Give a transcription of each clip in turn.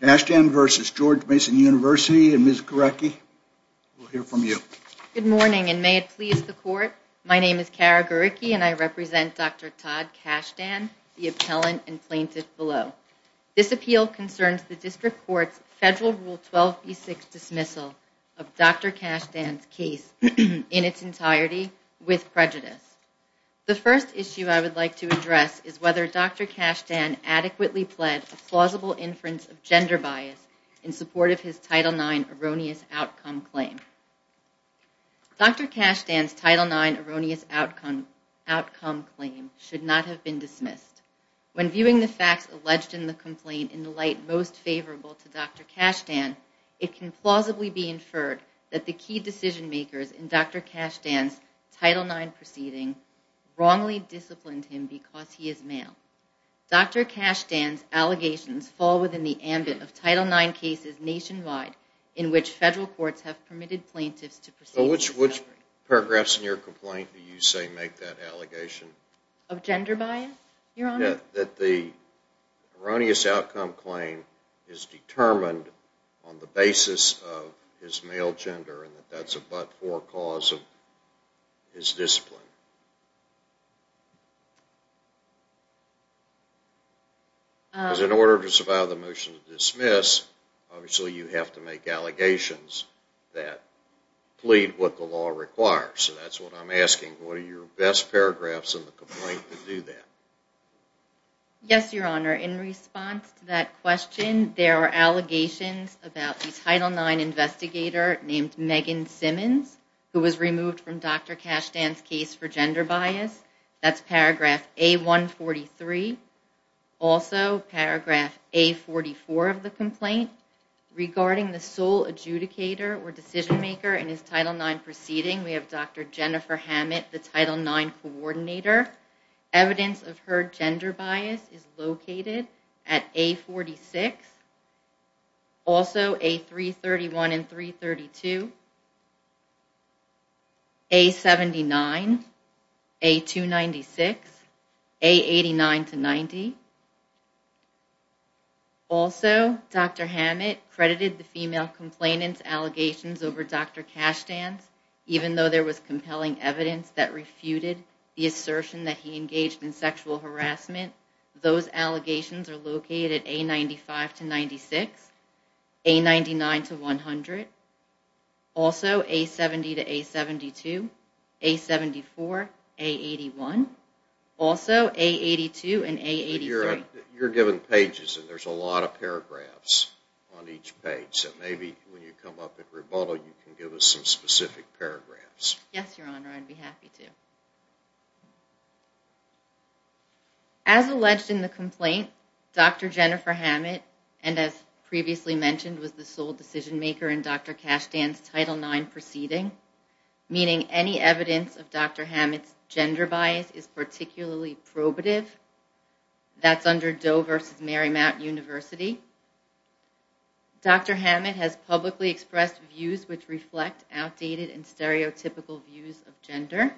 Kashdan v. George Mason University, and Ms. Garecki, we'll hear from you. Good morning, and may it please the court, my name is Cara Garecki, and I represent Dr. Todd Kashdan, the appellant and plaintiff below. This appeal concerns the district court's federal Rule 12b6 dismissal of Dr. Kashdan's case in its entirety with prejudice. The first issue I would like to address is whether Dr. Kashdan adequately pled a plausible inference of gender bias in support of his Title IX erroneous outcome claim. Dr. Kashdan's Title IX erroneous outcome claim should not have been dismissed. When viewing the facts alleged in the complaint in the light most favorable to Dr. Kashdan, it can plausibly be inferred that the key decision-makers in Dr. Kashdan's Title IX proceeding wrongly disciplined him because he is male. Dr. Kashdan's allegations fall within the ambit of Title IX cases nationwide in which federal courts have permitted plaintiffs to proceed with discovery. Which paragraphs in your complaint do you say make that allegation? Of gender bias, Your Honor? That the erroneous outcome claim is determined on the basis of his male gender and that that's a but-for cause of his discipline. Because in order to survive the motion to dismiss, obviously you have to make allegations that plead what the law requires. So that's what I'm asking. What are your best paragraphs in the complaint to do that? Yes, Your Honor. In response to that question, there are allegations about the Title IX investigator named Megan Simmons who was removed from Dr. Kashdan's case for gender bias. That's paragraph A143. Also, paragraph A44 of the complaint. Regarding the sole adjudicator or decision-maker in his Title IX proceeding, we have Dr. Jennifer Hammett, the Title IX coordinator. Evidence of her gender bias is located at A46, also A331 and A332, A79, A296, A89 to 90. Also, Dr. Hammett credited the female complainant's allegations over Dr. Kashdan's even though there was compelling evidence that refuted the assertion that he engaged in sexual harassment. Those allegations are located at A95 to 96, A99 to 100, also A70 to A72, A74, A81, also A82 and A83. You're given pages and there's a lot of paragraphs on each page. So maybe when you come up at rebuttal you can give us some specific paragraphs. Yes, Your Honor. I'd be happy to. As alleged in the complaint, Dr. Jennifer Hammett, and as previously mentioned, was the sole decision-maker in Dr. Kashdan's Title IX proceeding, meaning any evidence of Dr. Hammett's gender bias is particularly probative. That's under Doe v. Marymount University. Dr. Hammett has publicly expressed views which reflect outdated and stereotypical views of gender.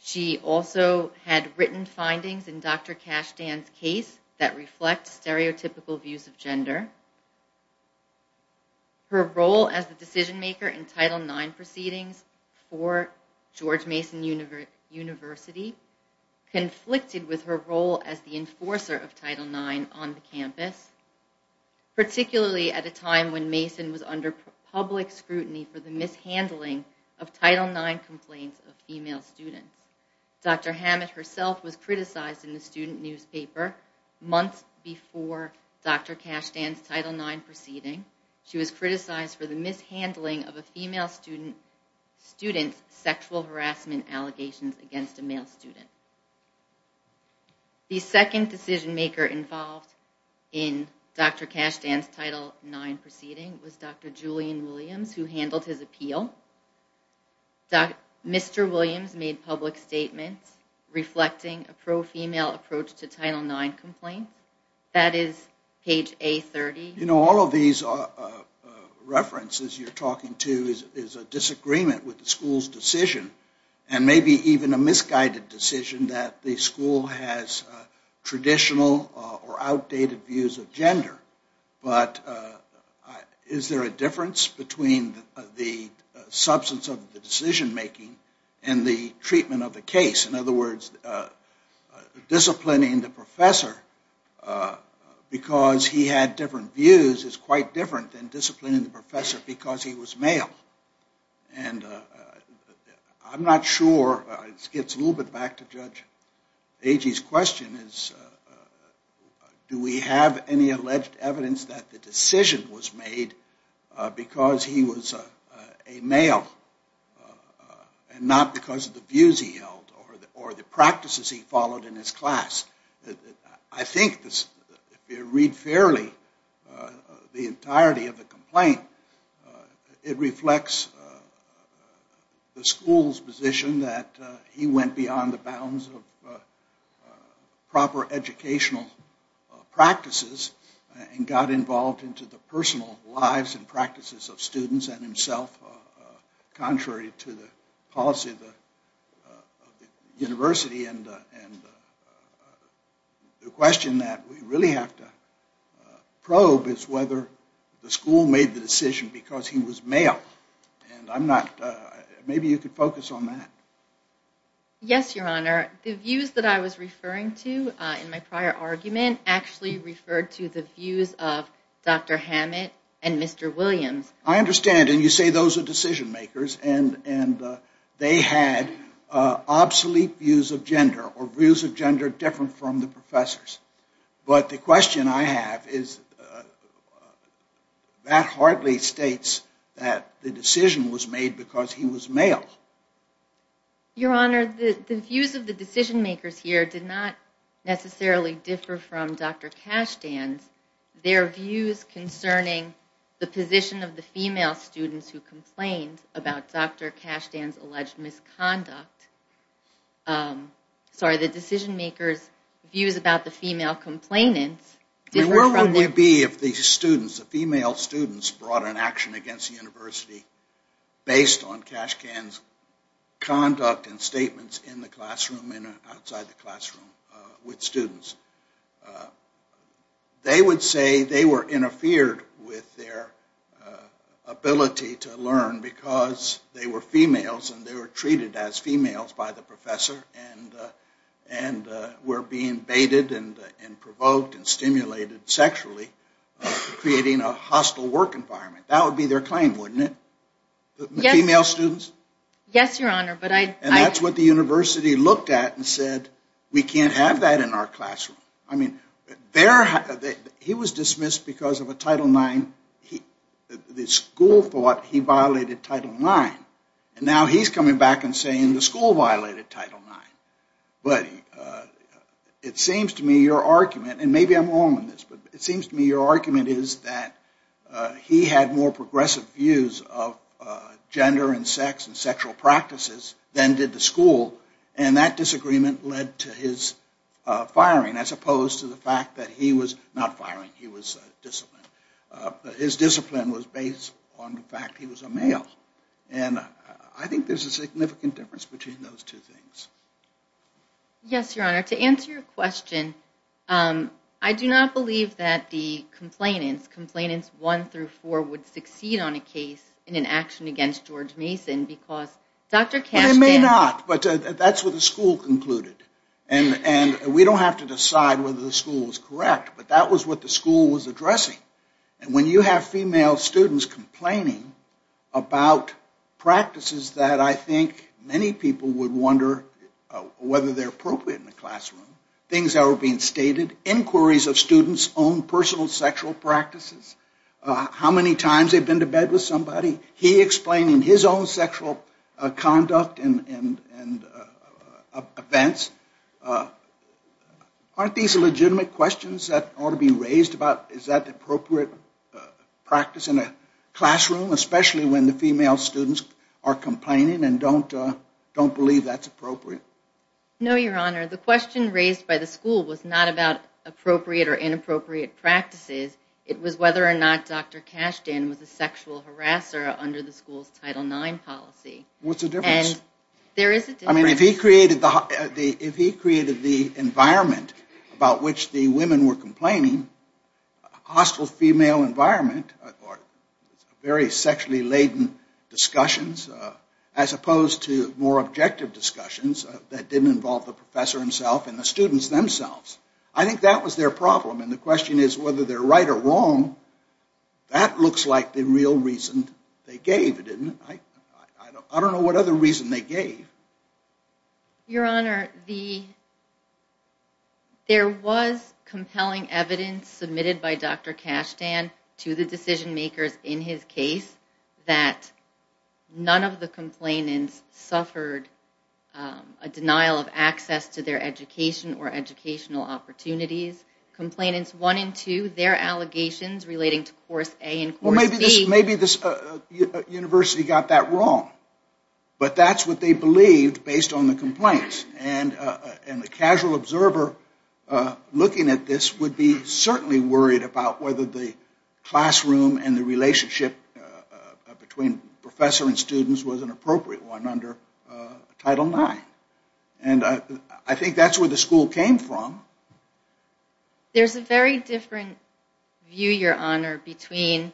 She also had written findings in Dr. Kashdan's case that reflect stereotypical views of gender. Her role as the decision-maker in Title IX proceedings for George Mason University conflicted with her role as the enforcer of Title IX on the campus, particularly at a time when Mason was under public scrutiny for the mishandling of Title IX complaints of female students. Dr. Hammett herself was criticized in the student newspaper months before Dr. Kashdan's Title IX proceeding. She was criticized for the mishandling of a female student's sexual harassment allegations against a male student. The second decision-maker involved in Dr. Kashdan's Title IX proceeding was Dr. Julian Williams, who handled his appeal. Mr. Williams made public statements reflecting a pro-female approach to Title IX complaints. That is page A30. You know, all of these references you're talking to is a disagreement with the school's decision, and maybe even a misguided decision that the school has traditional or outdated views of gender. But is there a difference between the substance of the decision-making and the treatment of the case? In other words, disciplining the professor because he had different views is quite different than disciplining the professor because he was male. And I'm not sure, this gets a little bit back to Judge Agee's question, is do we have any alleged evidence that the decision was made because he was a male and not because of the views he held or the practices he followed in his class? I think if you read fairly the entirety of the complaint, it reflects the school's position that he went beyond the bounds of proper educational practices and got involved into the personal lives and practices of students and himself, contrary to the policy of the university. And the question that we really have to probe is whether the school made the decision because he was male. And I'm not, maybe you could focus on that. Yes, Your Honor. The views that I was referring to in my prior argument actually referred to the views of Dr. Hammett and Mr. Williams. I understand, and you say those are decision-makers, and they had obsolete views of gender or views of gender different from the professors. But the question I have is that hardly states that the decision was made because he was male. Your Honor, the views of the decision-makers here did not necessarily differ from Dr. Cashtan's. Their views concerning the position of the female students who complained about Dr. Cashtan's alleged misconduct, sorry, the decision-makers' views about the female complainants differ from the… Where would we be if the students, the female students brought an action against the university based on Cashtan's conduct and statements in the classroom and outside the classroom with students? They would say they were interfered with their ability to learn because they were females and they were treated as females by the professor and were being baited and provoked and stimulated sexually, creating a hostile work environment. That would be their claim, wouldn't it? The female students? Yes, Your Honor, but I… That's what the university looked at and said, we can't have that in our classroom. I mean, he was dismissed because of a Title IX, the school thought he violated Title IX, and now he's coming back and saying the school violated Title IX. But it seems to me your argument, and maybe I'm wrong on this, but it seems to me your argument is that he had more progressive views of gender and sex and sexual practices than did the school, and that disagreement led to his firing as opposed to the fact that he was not firing, he was disciplined. His discipline was based on the fact he was a male, and I think there's a significant difference between those two things. Yes, Your Honor, to answer your question, I do not believe that the complainants, Complainants 1 through 4, would succeed on a case in an action against George Mason because Dr. Kasdan… Well, they may not, but that's what the school concluded. And we don't have to decide whether the school was correct, but that was what the school was addressing. And when you have female students complaining about practices that I think many people would wonder whether they're appropriate in the classroom, things that were being stated, inquiries of students' own personal sexual practices, how many times they've been to bed with somebody, he explaining his own sexual conduct and events, aren't these legitimate questions that ought to be raised about is that appropriate practice in a classroom, especially when the female students are complaining and don't believe that's appropriate? No, Your Honor, the question raised by the school was not about appropriate or inappropriate practices, it was whether or not Dr. Kasdan was a sexual harasser under the school's Title IX policy. What's the difference? There is a difference. I mean, if he created the environment about which the women were complaining, a hostile female environment or very sexually laden discussions, as opposed to more objective discussions that didn't involve the professor himself and the students themselves, I think that was their problem. And the question is whether they're right or wrong, that looks like the real reason they gave it. I don't know what other reason they gave. Your Honor, there was compelling evidence submitted by Dr. Kasdan to the decision makers in his case that none of the complainants suffered a denial of access to their education or educational opportunities. Complainants 1 and 2, their allegations relating to Course A and Course B. Well, maybe this university got that wrong. But that's what they believed based on the complaints. And the casual observer looking at this would be certainly worried about whether the classroom and the relationship between professor and students was an appropriate one under Title IX. And I think that's where the school came from. There's a very different view, Your Honor, between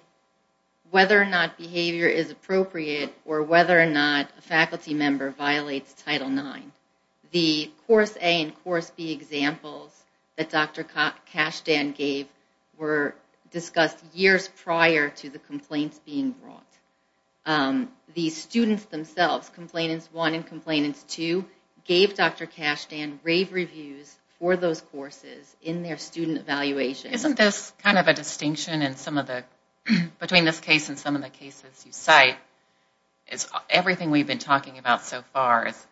whether or not behavior is appropriate or whether or not a faculty member violates Title IX. The Course A and Course B examples that Dr. Kasdan gave were discussed years prior to the complaints being brought. The students themselves, Complainants 1 and Complainants 2, gave Dr. Kasdan rave reviews for those courses in their student evaluations. Isn't this kind of a distinction between this case and some of the cases you cite? Everything we've been talking about so far is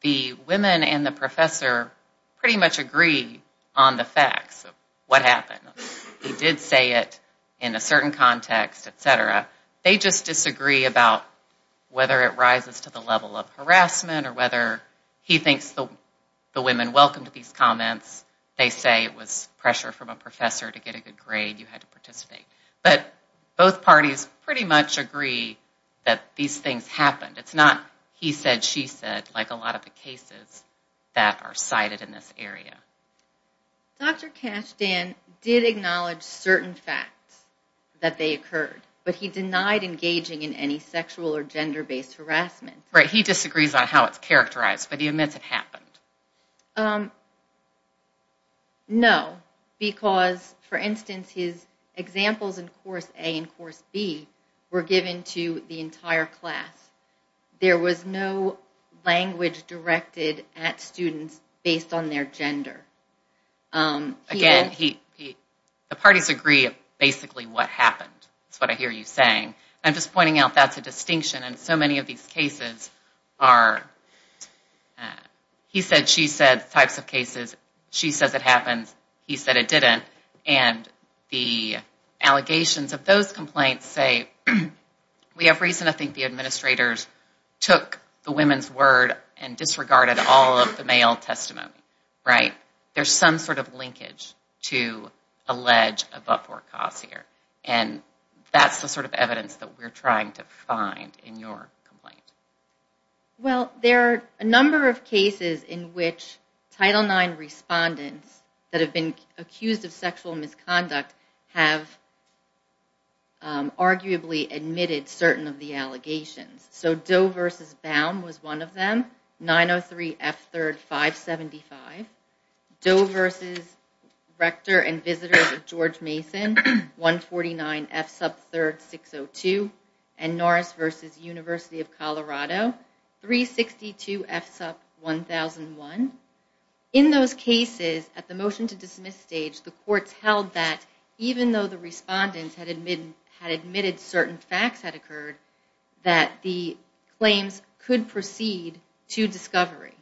the women and the professor pretty much agree on the facts of what happened. He did say it in a certain context, etc. They just disagree about whether it rises to the level of harassment or whether he thinks the women welcomed these comments. They say it was pressure from a professor to get a good grade, you had to participate. But both parties pretty much agree that these things happened. It's not he said, she said, like a lot of the cases that are cited in this area. Dr. Kasdan did acknowledge certain facts that they occurred, but he denied engaging in any sexual or gender-based harassment. Right, he disagrees on how it's characterized, but he admits it happened. No, because, for instance, his examples in Course A and Course B were given to the entire class. There was no language directed at students based on their gender. Again, the parties agree on basically what happened. That's what I hear you saying. I'm just pointing out that's a distinction, and so many of these cases are he said, she said types of cases. She says it happened, he said it didn't. The allegations of those complaints say we have reason to think the administrators took the women's word and disregarded all of the male testimony. There's some sort of linkage to allege a but-for-cause here. That's the sort of evidence that we're trying to find in your complaint. Well, there are a number of cases in which Title IX respondents that have been accused of sexual misconduct have arguably admitted certain of the allegations. So Doe v. Baum was one of them. 903 F. 3rd 575. Doe v. Rector and Visitor of George Mason, 149 F. Sub 3rd 602. And Norris v. University of Colorado, 362 F. Sub 1001. In those cases, at the motion-to-dismiss stage, the courts held that even though the respondents had admitted certain facts had occurred, that the claims could proceed to discovery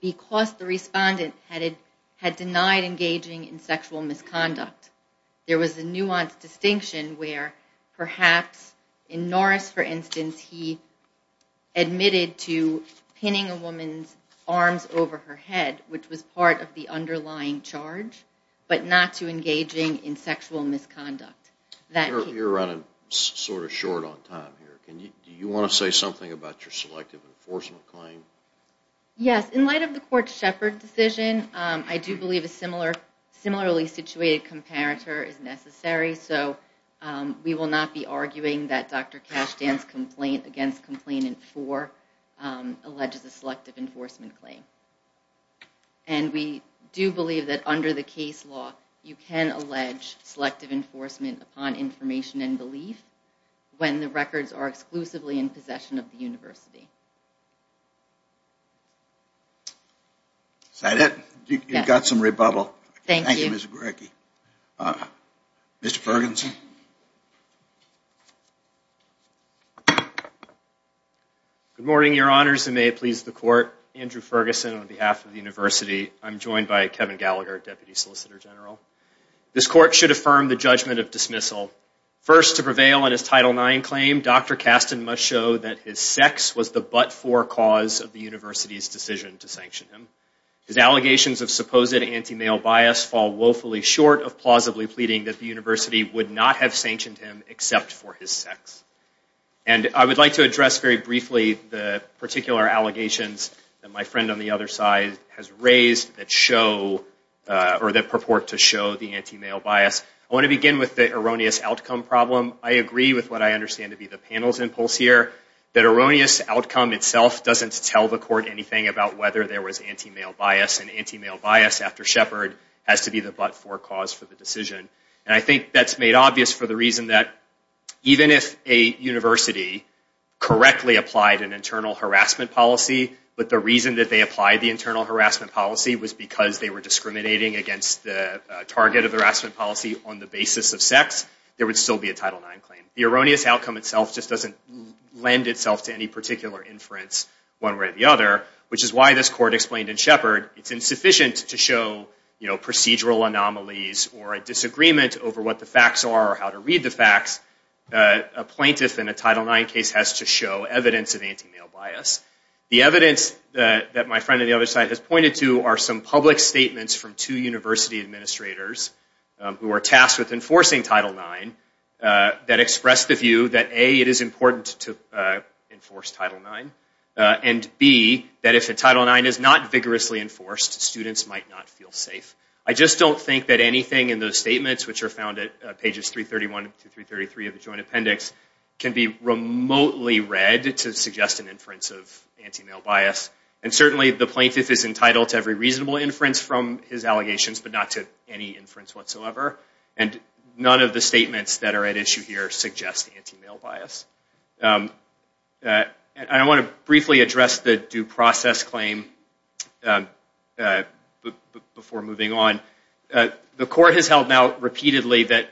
because the respondent had denied engaging in sexual misconduct. There was a nuanced distinction where perhaps in Norris, for instance, he admitted to pinning a woman's arms over her head, which was part of the underlying charge, but not to engaging in sexual misconduct. You're running sort of short on time here. Do you want to say something about your selective enforcement claim? Yes. In light of the court's Shepard decision, I do believe a similarly situated comparator is necessary. So we will not be arguing that Dr. Cashtan's complaint against Complainant 4 alleges a selective enforcement claim. And we do believe that under the case law, you can allege selective enforcement upon information and belief when the records are exclusively in possession of the university. Is that it? You've got some rebubble. Thank you, Ms. Greicke. Mr. Ferguson. Good morning, Your Honors, and may it please the Court. Andrew Ferguson on behalf of the university. I'm joined by Kevin Gallagher, Deputy Solicitor General. This court should affirm the judgment of dismissal. First, to prevail on his Title IX claim, Dr. Cashtan must show that his sex was the but-for cause of the university's decision to sanction him. His allegations of supposed anti-male bias fall woefully short of plausibly pleading that the university would not have sanctioned him except for his sex. And I would like to address very briefly the particular allegations that my friend on the other side has raised that show or that purport to show the anti-male bias. I want to begin with the erroneous outcome problem. I agree with what I understand to be the panel's impulse here, that erroneous outcome itself doesn't tell the court anything about whether there was anti-male bias. And anti-male bias after Shepard has to be the but-for cause for the decision. And I think that's made obvious for the reason that even if a university correctly applied an internal harassment policy, but the reason that they applied the internal harassment policy was because they were discriminating against the target of the harassment policy on the basis of sex, there would still be a Title IX claim. The erroneous outcome itself just doesn't lend itself to any particular inference one way or the other, which is why this court explained in Shepard it's insufficient to show procedural anomalies or a disagreement over what the facts are or how to read the facts. A plaintiff in a Title IX case has to show evidence of anti-male bias. The evidence that my friend on the other side has pointed to are some public statements from two university administrators who are tasked with enforcing Title IX that express the view that A, it is important to enforce Title IX, and B, that if a Title IX is not vigorously enforced, students might not feel safe. I just don't think that anything in those statements, which are found at pages 331 to 333 of the Joint Appendix, can be remotely read to suggest an inference of anti-male bias. And certainly the plaintiff is entitled to every reasonable inference from his allegations, but not to any inference whatsoever. And none of the statements that are at issue here suggest anti-male bias. I want to briefly address the due process claim before moving on. The court has held now repeatedly that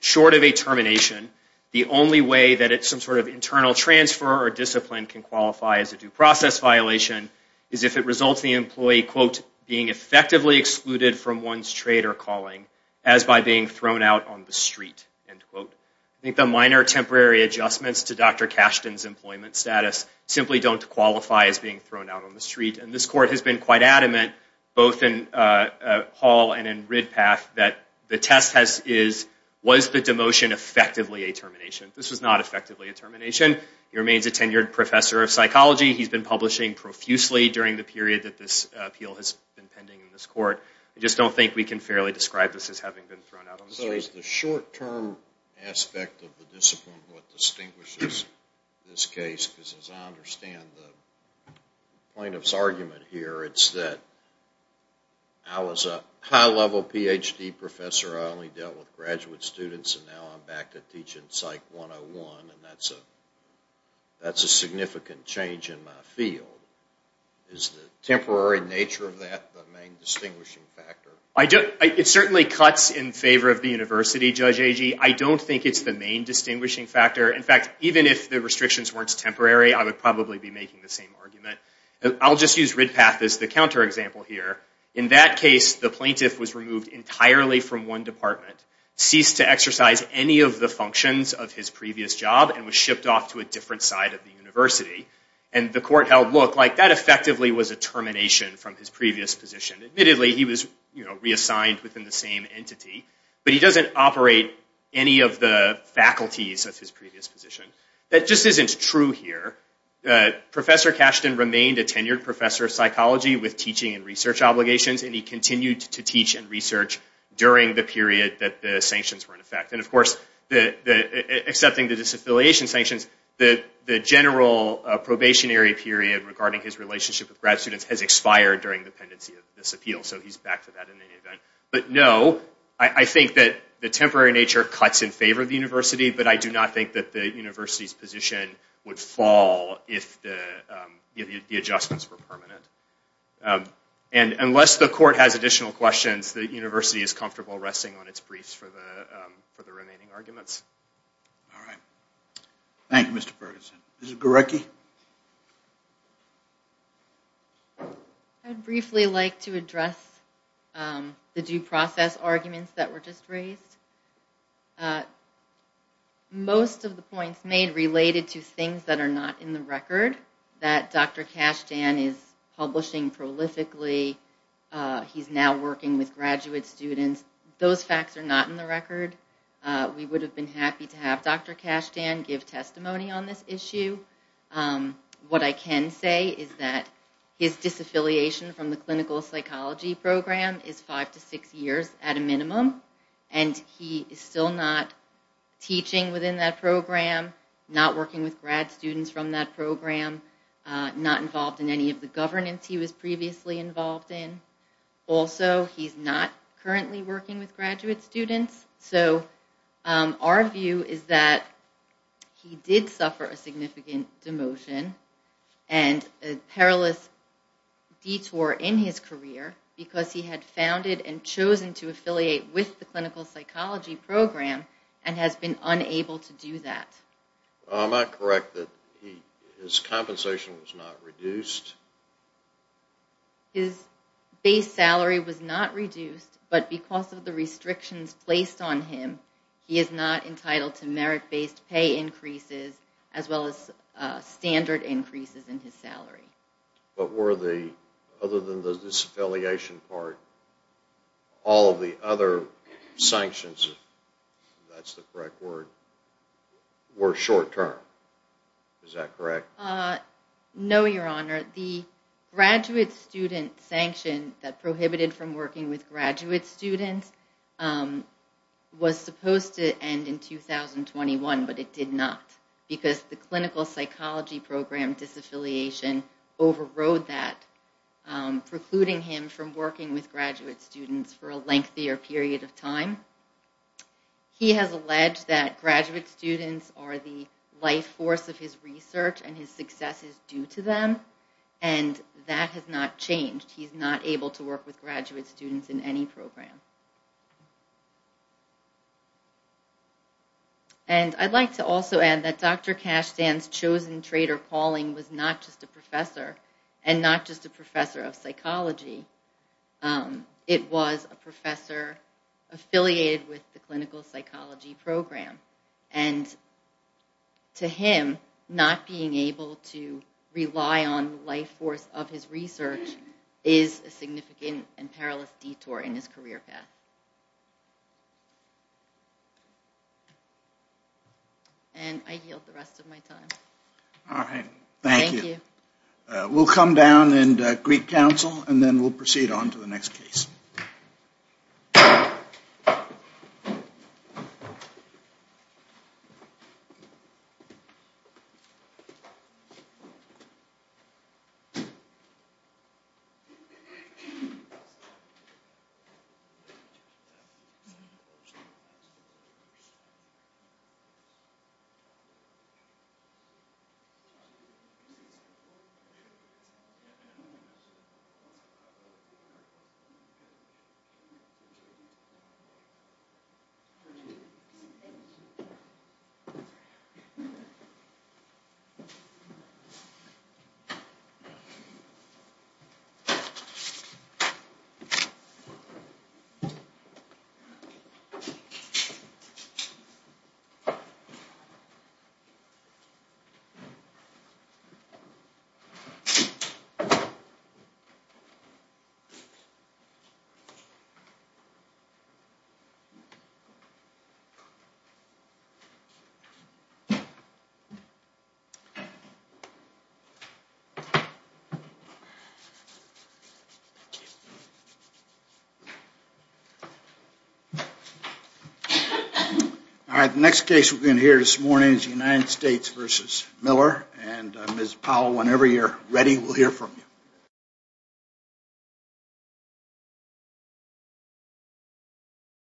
short of a termination, the only way that some sort of internal transfer or discipline can qualify as a due process violation is if it results in the employee, quote, being effectively excluded from one's trade or calling as by being thrown out on the street, end quote. I think the minor temporary adjustments to Dr. Cashton's employment status simply don't qualify as being thrown out on the street. And this court has been quite adamant, both in Hall and in Ridpath, that the test is, was the demotion effectively a termination? This was not effectively a termination. He remains a tenured professor of psychology. He's been publishing profusely during the period that this appeal has been pending in this court. I just don't think we can fairly describe this as having been thrown out on the street. So is the short term aspect of the discipline what distinguishes this case? Because as I understand the plaintiff's argument here, it's that I was a high level Ph.D. professor. I only dealt with graduate students. And now I'm back to teaching Psych 101. And that's a significant change in my field. Is the temporary nature of that the main distinguishing factor? It certainly cuts in favor of the university, Judge Agee. I don't think it's the main distinguishing factor. In fact, even if the restrictions weren't temporary, I would probably be making the same argument. I'll just use Ridpath as the counterexample here. In that case, the plaintiff was removed entirely from one department, ceased to exercise any of the functions of his previous job, and was shipped off to a different side of the university. And the court held, look, that effectively was a termination from his previous position. Admittedly, he was reassigned within the same entity. But he doesn't operate any of the faculties of his previous position. That just isn't true here. Professor Cashton remained a tenured professor of psychology with teaching and research obligations. And he continued to teach and research during the period that the sanctions were in effect. And of course, accepting the disaffiliation sanctions, the general probationary period regarding his relationship with grad students has expired during the pendency of this appeal. So he's back to that in any event. But no, I think that the temporary nature cuts in favor of the university. But I do not think that the university's position would fall if the adjustments were permanent. And unless the court has additional questions, the university is comfortable resting on its briefs for the remaining arguments. All right. Thank you, Mr. Ferguson. Ms. Gorecki? I'd briefly like to address the due process arguments that were just raised. Most of the points made related to things that are not in the record, that Dr. Cashton is publishing prolifically. He's now working with graduate students. Those facts are not in the record. We would have been happy to have Dr. Cashton give testimony on this issue. What I can say is that his disaffiliation from the clinical psychology program is five to six years at a minimum. And he is still not teaching within that program, not working with grad students from that program, not involved in any of the governance he was previously involved in. Also, he's not currently working with graduate students. So our view is that he did suffer a significant demotion and a perilous detour in his career because he had founded and chosen to affiliate with the clinical psychology program and has been unable to do that. Am I correct that his compensation was not reduced? His base salary was not reduced, but because of the restrictions placed on him, he is not entitled to merit-based pay increases as well as standard increases in his salary. But other than the disaffiliation part, all of the other sanctions, if that's the correct word, were short-term. Is that correct? No, Your Honor. The graduate student sanction that prohibited from working with graduate students was supposed to end in 2021, but it did not because the clinical psychology program disaffiliation overrode that, precluding him from working with graduate students for a lengthier period of time. He has alleged that graduate students are the life force of his research and his success is due to them, and that has not changed. He's not able to work with graduate students in any program. And I'd like to also add that Dr. Cashtan's chosen traitor calling was not just a professor and not just a professor of psychology. It was a professor affiliated with the clinical psychology program, and to him, not being able to rely on the life force of his research is a significant and perilous detour in his career path. And I yield the rest of my time. All right. Thank you. Thank you. We'll come down and greet counsel, and then we'll proceed on to the next case. Thank you. Thank you. All right. The next case we're going to hear this morning is the United States v. Miller. And Ms. Powell, whenever you're ready, we'll hear from you. All right.